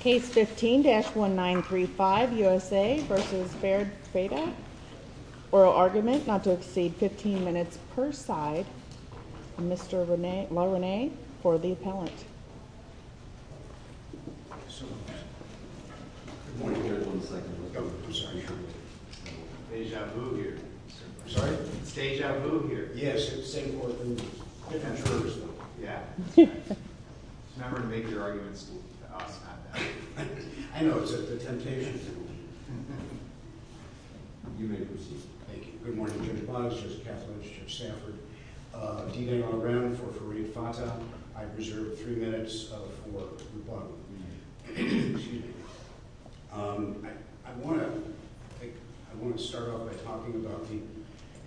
Case 15-1935, USA v. Farid Fata Oral argument not to exceed 15 minutes per side Mr. LaRené for the appellant I know, it's a temptation. You may proceed. Thank you. Good morning, Judge Bonds, Judge Kaffel, and Judge Stafford. D-L. LaRené for Farid Fata. I reserve three minutes for rebuttal. Excuse me. I want to start off by talking about the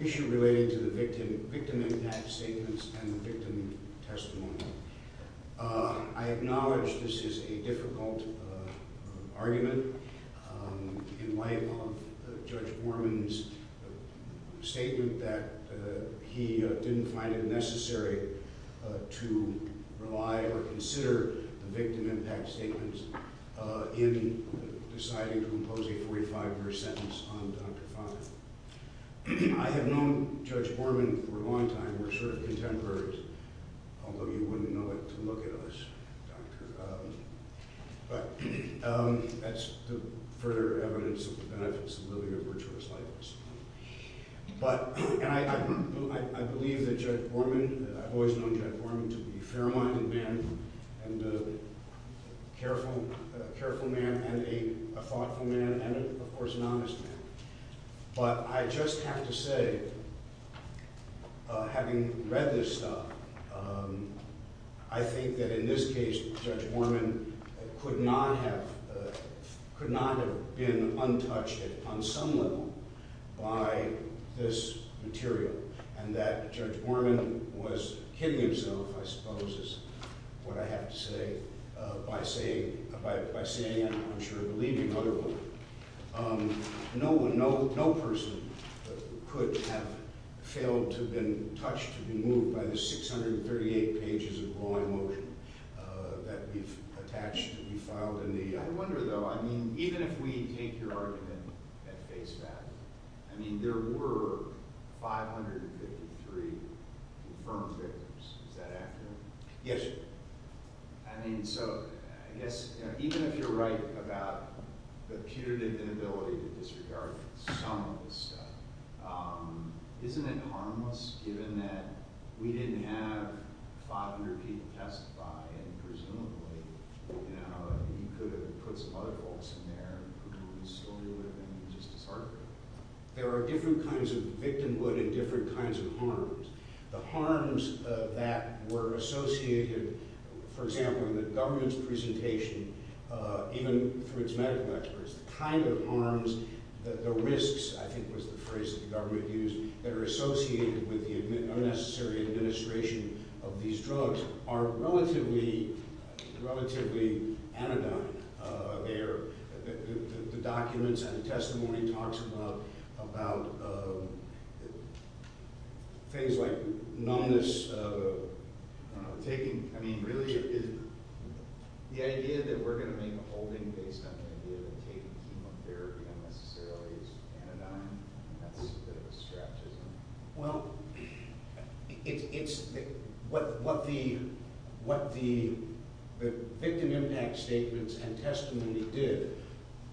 issue related to the victim-impact statements and the victim testimony. I acknowledge this is a difficult argument in light of Judge Borman's statement that he didn't find it necessary to rely or consider the victim-impact statements in deciding to impose a 45-verse sentence on Dr. Fata. I have known Judge Borman for a long time. We're sort of contemporaries, although you wouldn't know it to look at us, Doctor. But that's the further evidence of the benefits of living a virtuous life. I believe that Judge Borman, I've always known Judge Borman to be a fair-minded man and a careful man and a thoughtful man and, of course, an honest man. But I just have to say, having read this stuff, I think that in this case, Judge Borman could not have been untouched on some level by this material and that Judge Borman was kidding himself, I suppose is what I have to say, by saying, I'm sure you believe me, Mother Booker. No person could have failed to have been touched, to be moved by the 638 pages of law in motion that we've attached, that we've filed. I wonder, though, I mean, even if we take your argument at face value, I mean, there were 553 confirmed victims. Is that accurate? Yes. I mean, so, I guess, even if you're right about the punitive inability to disregard some of this stuff, isn't it harmless, given that we didn't have 500 people testify and presumably, you know, you could have put some other folks in there who we still knew would have been just as harmful? There are different kinds of victimhood and different kinds of harms. The harms that were associated, for example, in the government's presentation, even for its medical experts, the kind of harms, the risks, I think was the phrase the government used, that are associated with the unnecessary administration of these drugs are relatively anodyne. The documents and the testimony talks about things like numbness, taking, I mean, really, the idea that we're going to make a holding based on the idea that taking chemotherapy unnecessarily is anodyne, that's a bit of a scratch, isn't it? Well, it's, what the victim impact statements and testimony did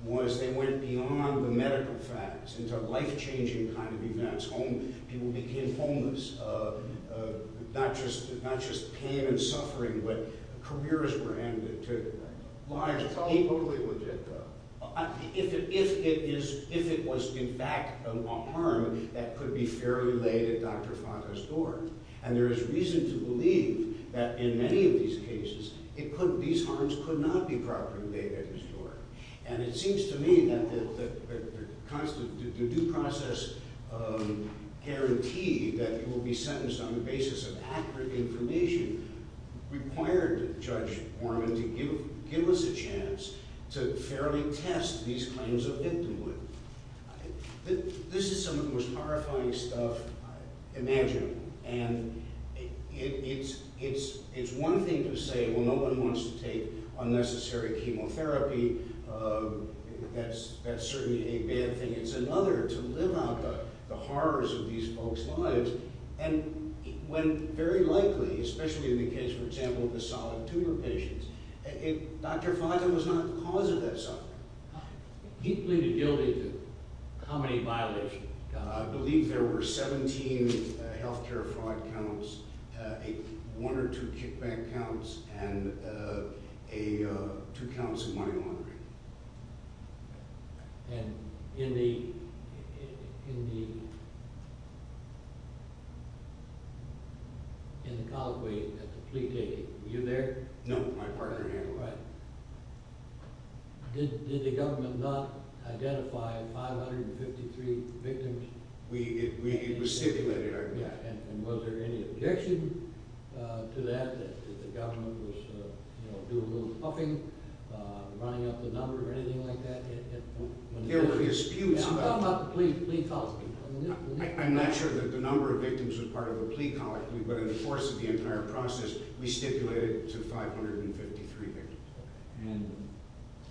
was they went beyond the medical facts into life-changing kind of events. People became homeless, not just pain and suffering, but careers were handed to them. If it was, in fact, a harm that could be fairly laid at Dr. Fanta's door, and there is reason to believe that in many of these cases, these harms could not be properly laid at his door. And it seems to me that the due process guarantee that you will be sentenced on the basis of accurate information required Judge Mormon to give us a chance to fairly test these claims of victimhood. This is some of the most horrifying stuff imaginable, and it's one thing to say, well, no one wants to take unnecessary chemotherapy, that's certainly a bad thing. It's another to live out the horrors of these folks' lives, and when very likely, especially in the case, for example, of the solid tumor patients, Dr. Fanta was not the cause of that suffering. He pleaded guilty to how many violations? I believe there were 17 health care fraud counts, one or two kickback counts, and two counts of money laundering. And in the, in the, in the colloquy at the plea taking, were you there? No, my partner handled that. Did, did the government not identify 553 victims? We, we, it was stipulated. And was there any objection to that, that the government was, you know, doing a little puffing, running up the number or anything like that? There were a few. How about the plea, plea colloquy? I'm not sure that the number of victims was part of the plea colloquy, but in the course of the entire process, we stipulated to 553 victims. And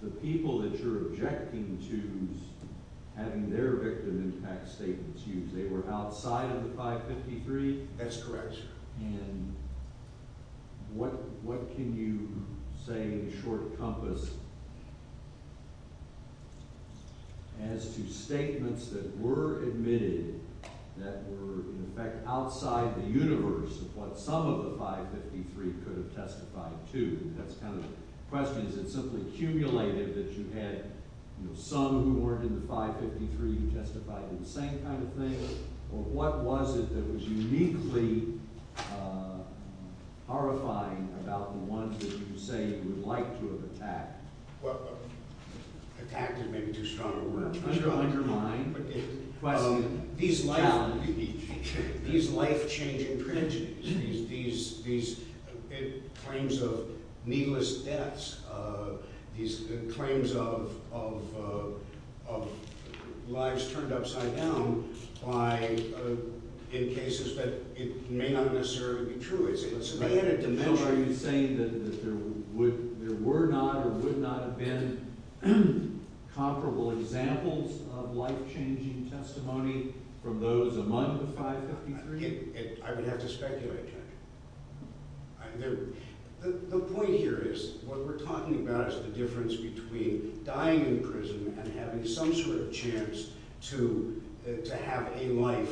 the people that you're objecting to having their victim impact statements used, they were outside of the 553? And what, what can you say in a short compass as to statements that were admitted that were, in effect, outside the universe of what some of the 553 could have testified to? That's kind of the question. Is it simply cumulated that you had, you know, some who weren't in the 553 who testified to the same kind of thing? Or what was it that was uniquely horrifying about the ones that you say you would like to have attacked? Well, attacked is maybe too strong a word. I don't like your mind. These life changing prejudices, these claims of needless deaths, these claims of lives turned upside down by, in cases that may not necessarily be true. So are you saying that there were not or would not have been comparable examples of life changing testimony from those among the 553? I would have to speculate, Judge. The point here is what we're talking about is the difference between dying in prison and having some sort of chance to have a life,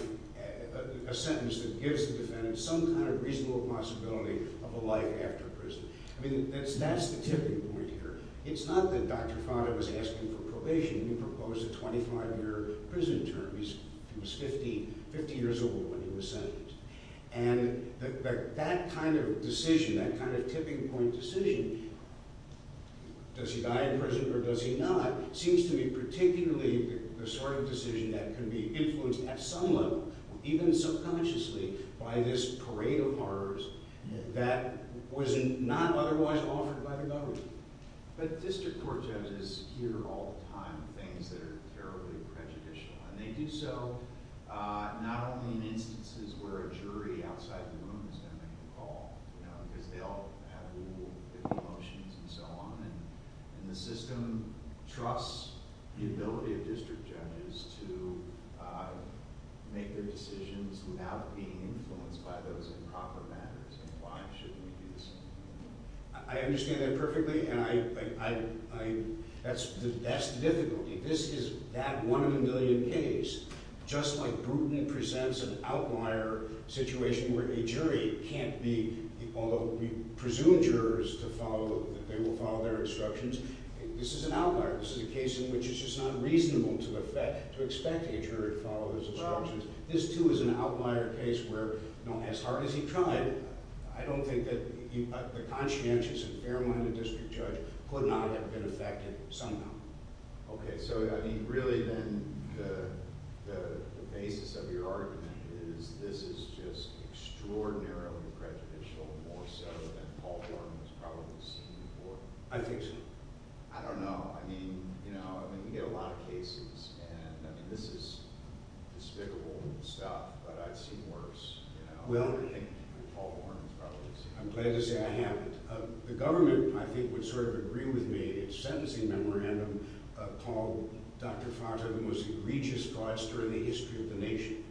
a sentence that gives the defendant some kind of reasonable possibility of a life after prison. I mean, that's the tipping point here. It's not that Dr. Fata was asking for probation. He proposed a 25-year prison term. He was 50 years old when he was sentenced. And that kind of decision, that kind of tipping point decision, does he die in prison or does he not, seems to be particularly the sort of decision that can be influenced at some level, even subconsciously, by this parade of horrors that was not otherwise offered by the government. But district court judges hear all the time things that are terribly prejudicial. And they do so not only in instances where a jury outside the room is going to make a call, you know, because they all have legal motions and so on. And the system trusts the ability of district judges to make their decisions without being influenced by those improper matters. And why shouldn't we do the same? I understand that perfectly. And I – that's the difficulty. This is that one-in-a-million case. Just like Bruton presents an outlier situation where a jury can't be – although we presume jurors to follow – that they will follow their instructions, this is an outlier. This is a case in which it's just not reasonable to expect a jury to follow those instructions. This, too, is an outlier case where, you know, as hard as he tried, I don't think that the conscientious and fair-minded district judge could not have been affected somehow. Okay. So, I mean, really then the basis of your argument is this is just extraordinarily prejudicial, more so than Paul Horne has probably seen before. I think so. I don't know. I mean, you know, I mean, you get a lot of cases. And, I mean, this is despicable stuff, but I've seen worse, you know, than I think Paul Horne has probably seen before. I'm glad to say I haven't. The government, I think, would sort of agree with me in its sentencing memorandum called Dr. Foster the most egregious fraudster in the history of the nation.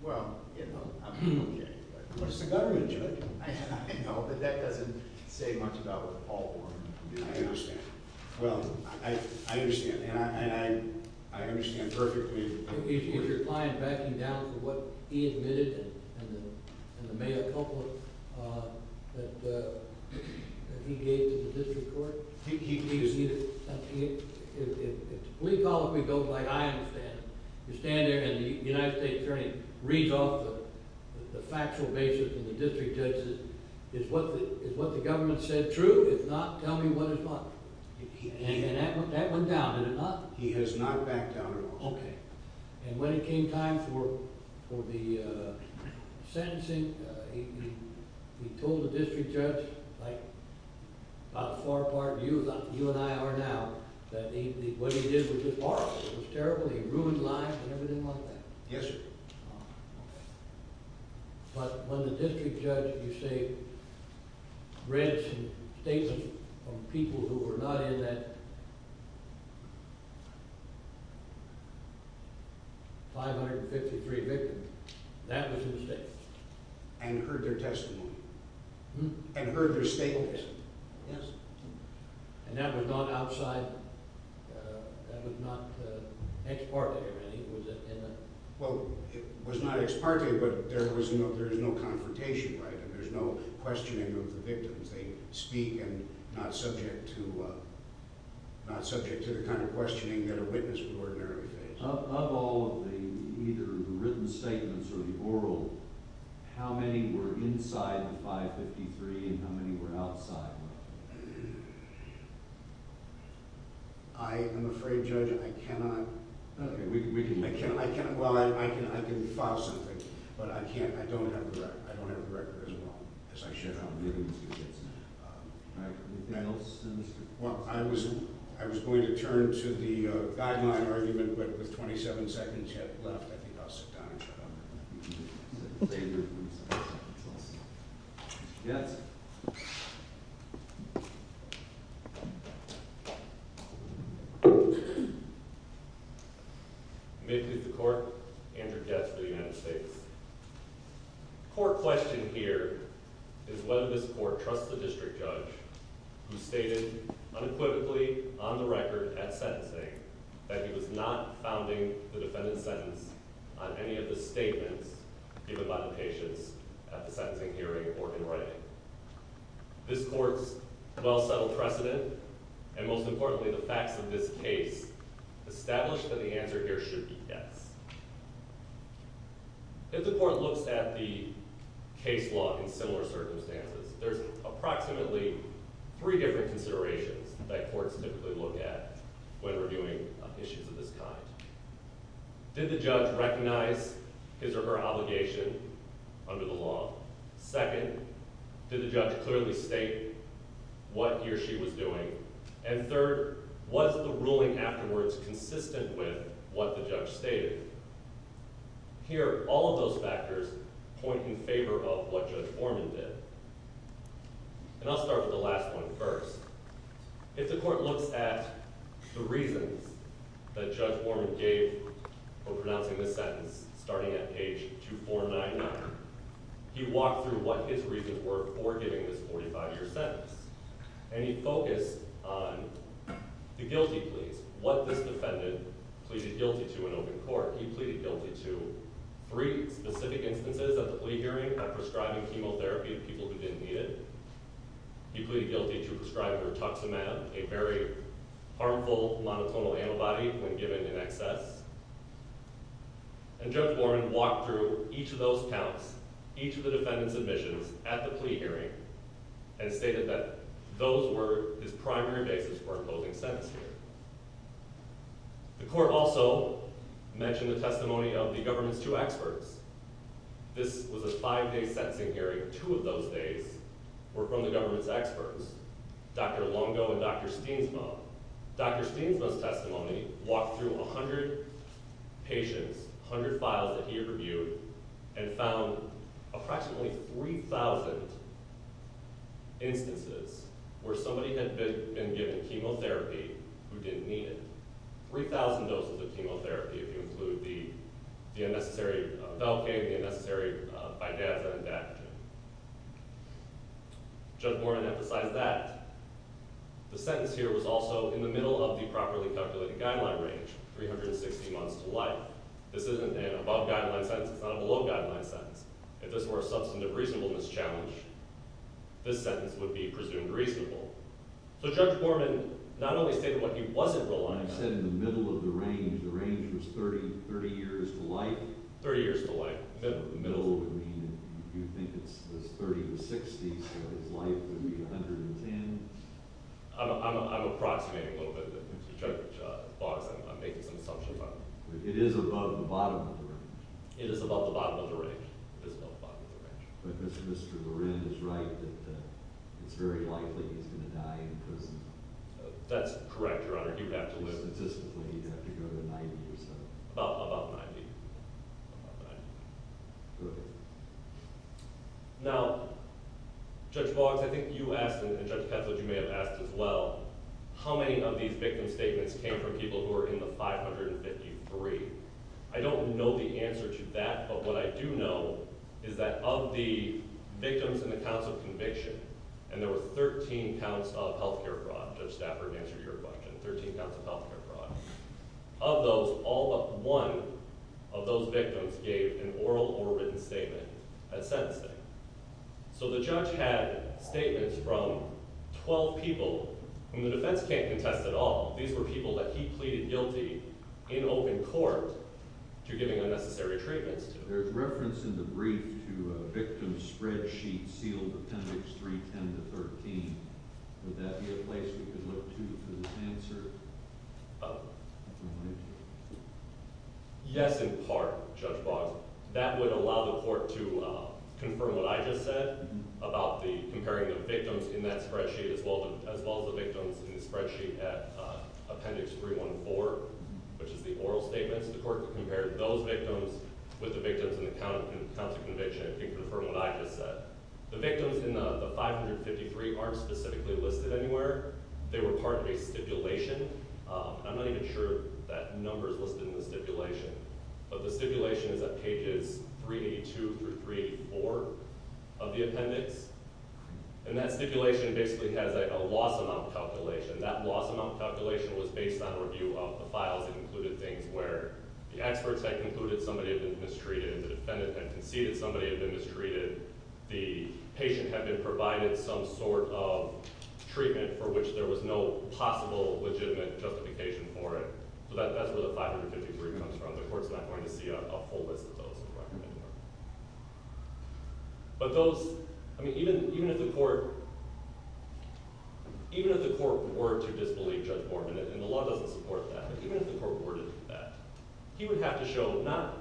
Well, you know, I mean, okay. But it's the government, Judge. I know, but that doesn't say much about what Paul Horne did. I understand. Well, I understand. And I understand perfectly. Is your client backing down from what he admitted in the May a couple of that he gave to the district court? He is. If the plea policy goes like I understand it, you stand there and the United States attorney reads off the factual basis and the district judge says, is what the government said true? If not, tell me what is what? And that went down, did it not? He has not backed down at all. Okay. And when it came time for the sentencing, he told the district judge, like about the far part of you, like you and I are now, that what he did was just horrible. It was terrible. He ruined lives and everything like that. Yes, sir. But when the district judge, you say, read some statements from people who were not in that 553 victims, that was a mistake. And heard their testimony? And heard their statements? Yes. And that was not outside, that was not ex parte or anything, was it? Well, it was not ex parte, but there is no confrontation, right? There is no questioning of the victims. They speak and not subject to the kind of questioning that a witness would ordinarily face. Of all of the either written statements or the oral, how many were inside the 553 and how many were outside? I am afraid, Judge, I cannot. Well, I can file something, but I can't. I don't have the record. I don't have the record as well as I should. All right. Anything else? Well, I was going to turn to the guideline argument, but with 27 seconds left, I think I'll sit down and shut up. Thank you. Mr. Getz. May it please the Court, Andrew Getz for the United States. The core question here is whether this Court trusts the district judge who stated unequivocally on the record at sentencing that he was not founding the defendant's sentence on any of the statements given by the patients at the sentencing hearing or in writing. This Court's well-settled precedent and, most importantly, the facts of this case establish that the answer here should be yes. If the Court looks at the case law in similar circumstances, there's approximately three different considerations that courts typically look at when reviewing issues of this kind. Did the judge recognize his or her obligation under the law? Second, did the judge clearly state what he or she was doing? And third, was the ruling afterwards consistent with what the judge stated? Here, all of those factors point in favor of what Judge Vorman did. And I'll start with the last one first. If the Court looks at the reasons that Judge Vorman gave for pronouncing the sentence starting at page 2499, he walked through what his reasons were for giving this 45-year sentence, and he focused on the guilty pleas, what this defendant pleaded guilty to in open court. He pleaded guilty to three specific instances at the plea hearing of prescribing chemotherapy to people who didn't need it. He pleaded guilty to prescribing rituximab, a very harmful monotonal antibody, when given in excess. And Judge Vorman walked through each of those counts, each of the defendant's admissions, at the plea hearing and stated that those were his primary basis for imposing sentence here. The Court also mentioned the testimony of the government's two experts. This was a five-day sentencing hearing. Two of those days were from the government's experts, Dr. Longo and Dr. Steensma. Dr. Steensma's testimony walked through 100 patients, 100 files that he reviewed, and found approximately 3,000 instances where somebody had been given chemotherapy who didn't need it. 3,000 doses of chemotherapy, if you include the unnecessary Velcain, the unnecessary Vidaz, and Dapagen. Judge Vorman emphasized that. The sentence here was also in the middle of the properly calculated guideline range, 360 months to life. This isn't an above-guideline sentence. It's not a below-guideline sentence. If this were a substantive reasonableness challenge, this sentence would be presumed reasonable. So Judge Vorman not only stated what he wasn't relying on. He said in the middle of the range, the range was 30 years to life. 30 years to life, middle. The middle would mean, if you think it's 30 to 60, so his life would be 110. I'm approximating a little bit. Judge Boggs, I'm making some assumptions. It is above the bottom of the range. It is above the bottom of the range. It is above the bottom of the range. But Mr. Loren is right that it's very likely he's going to die in prison. That's correct, Your Honor. Statistically, you'd have to go to 90 or so. About 90. About 90. Good. Now, Judge Boggs, I think you asked, and Judge Patzold, you may have asked as well, how many of these victim statements came from people who were in the 553. I don't know the answer to that, but what I do know is that of the victims and the counts of conviction, and there were 13 counts of health care fraud, Judge Stafford answered your question. 13 counts of health care fraud. Of those, all but one of those victims gave an oral or written statement at sentencing. So the judge had statements from 12 people whom the defense can't contest at all. These were people that he pleaded guilty in open court to giving unnecessary treatments to. There's reference in the brief to a victim spreadsheet sealed Appendix 3, 10 to 13. Would that be a place we could look to for this answer? Yes, in part, Judge Boggs. That would allow the court to confirm what I just said about comparing the victims in that spreadsheet as well as the victims in the spreadsheet at Appendix 314, which is the oral statements. The court could compare those victims with the victims in the counts of conviction and confirm what I just said. The victims in the 553 aren't specifically listed anywhere. They were part of a stipulation. I'm not even sure that number is listed in the stipulation. But the stipulation is at pages 382 through 384 of the appendix. And that stipulation basically has a loss amount calculation. That loss amount calculation was based on review of the files. It included things where the experts had concluded somebody had been mistreated, the defendant had conceded somebody had been mistreated, the patient had been provided some sort of treatment for which there was no possible legitimate justification for it. So that's where the 553 comes from. The court's not going to see a whole list of those. But those, I mean, even if the court were to disbelieve Judge Morgan, and the law doesn't support that, but even if the court were to do that, he would have to show not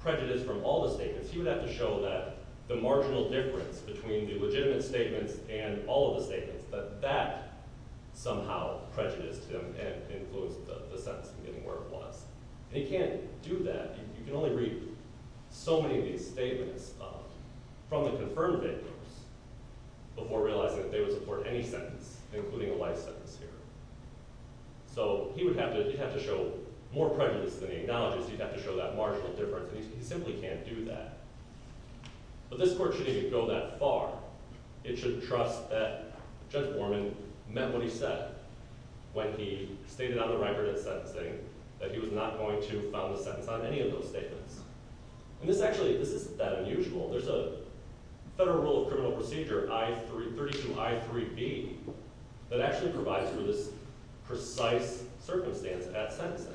prejudice from all the statements. He would have to show that the marginal difference between the legitimate statements and all of the statements, that that somehow prejudiced him and influenced the sentence in getting where it was. And he can't do that. You can only read so many of these statements from the confirmed victims before realizing that they would support any sentence, including a life sentence here. So he would have to show more prejudice than he acknowledges. He'd have to show that marginal difference. And he simply can't do that. But this court shouldn't even go that far. It should trust that Judge Borman met what he said when he stated on the record at sentencing that he was not going to found a sentence on any of those statements. And this actually, this isn't that unusual. There's a Federal Rule of Criminal Procedure, 32I3B, that actually provides for this precise circumstance at sentencing.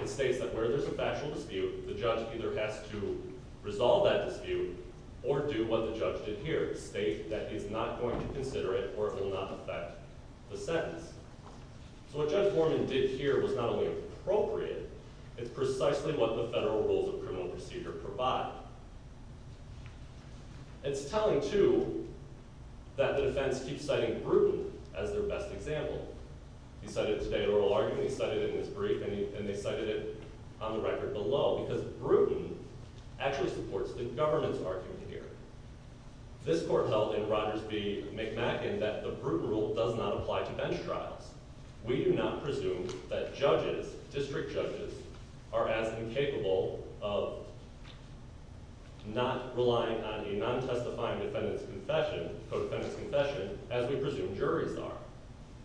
It states that where there's a factual dispute, the judge either has to resolve that dispute or do what the judge did here, state that he's not going to consider it or it will not affect the sentence. So what Judge Borman did here was not only appropriate, it's precisely what the Federal Rules of Criminal Procedure provide. It's telling, too, that the defense keeps citing Bruton as their best example. He cited it today in oral argument, he cited it in his brief, and they cited it on the record below because Bruton actually supports the government's argument here. This court held in Rogers v. McMacken that the Bruton Rule does not apply to bench trials. We do not presume that judges, district judges, are as incapable of not relying on a non-testifying defendant's confession, co-defendant's confession, as we presume juries are.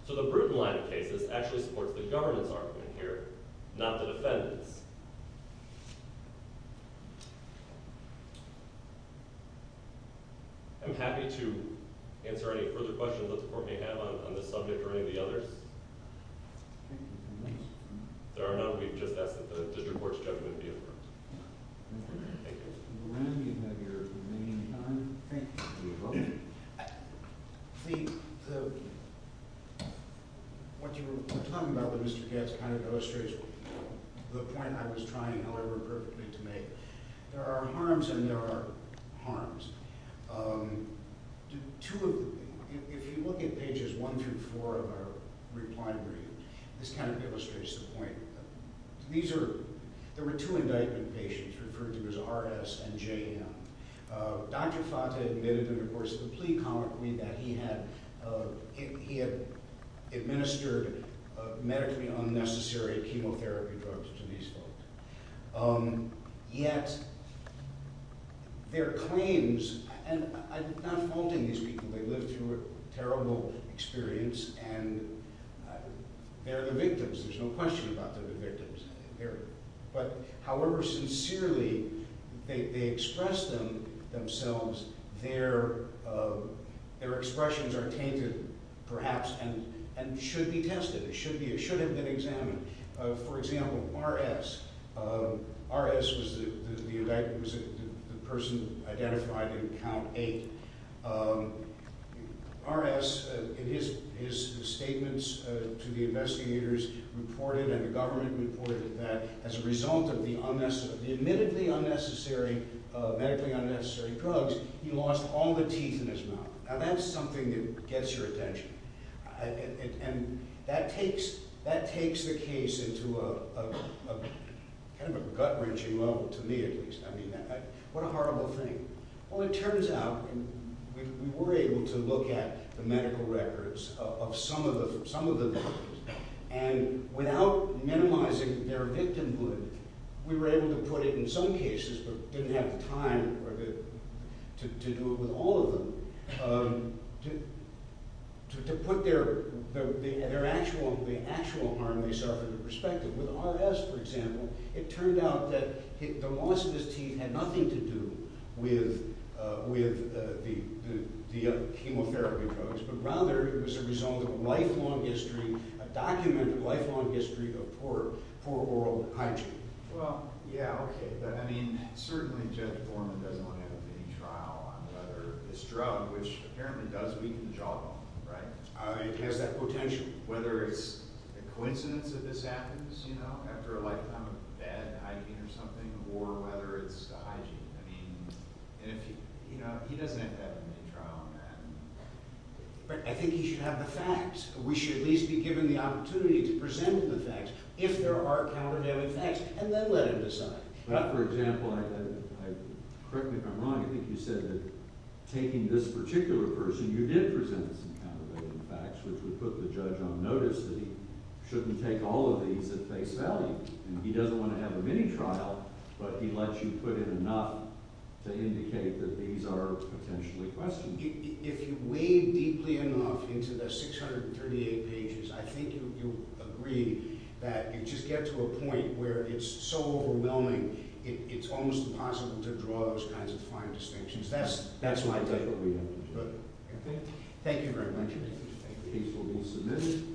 So the Bruton line of cases actually supports the government's argument here, not the defendant's. I'm happy to answer any further questions that the court may have on this subject or any of the others. There are none. We've just asked that the district court's judgment be affirmed. Mr. Moran, you have your remaining time. What you were talking about with Mr. Gatz kind of illustrates the point I was trying, however perfectly, to make. There are harms and there are harms. If you look at pages 1 through 4 of our reply brief, this kind of illustrates the point. There were two indictment patients referred to as R.S. and J.M. Dr. Fata admitted in the course of the plea that he had administered medically unnecessary chemotherapy drugs to these folks. Yet their claims – and I'm not faulting these people. They lived through a terrible experience and they're the victims. There's no question about they're the victims. However sincerely they express themselves, their expressions are tainted, perhaps, and should be tested. It should have been examined. For example, R.S. R.S. was the person identified in Count 8. R.S., in his statements to the investigators, reported and the government reported that as a result of the admittedly unnecessary drugs, he lost all the teeth in his mouth. Now that's something that gets your attention. That takes the case into a gut-wrenching level, to me at least. What a horrible thing. Well, it turns out we were able to look at the medical records of some of the victims. And without minimizing their victimhood, we were able to put it in some cases, but didn't have the time to do it with all of them, to put the actual harm they suffered in perspective. With R.S., for example, it turned out that the loss of his teeth had nothing to do with the chemotherapy drugs, but rather it was a result of a lifelong history, a documented lifelong history of poor oral hygiene. Well, yeah, okay. But, I mean, certainly Judge Borman doesn't want to have a pending trial on whether this drug, which apparently does weaken the jawbone, right? It has that potential. Whether it's a coincidence that this happens, you know, after a lifetime of bad hygiene or something, or whether it's the hygiene. He doesn't have to have a mini-trial on that. But I think he should have the facts. We should at least be given the opportunity to present the facts, if there are counter-dating facts, and then let him decide. For example, correct me if I'm wrong, I think you said that taking this particular person, you did present some counter-dating facts, which would put the judge on notice that he shouldn't take all of these at face value. He doesn't want to have a mini-trial, but he lets you put in enough to indicate that these are potentially questionable. If you wade deeply enough into the 638 pages, I think you'll agree that you just get to a point where it's so overwhelming, it's almost impossible to draw those kinds of fine distinctions. That's my take. That's what we have to do. Thank you very much. Thank you. Thank you. The case will be submitted.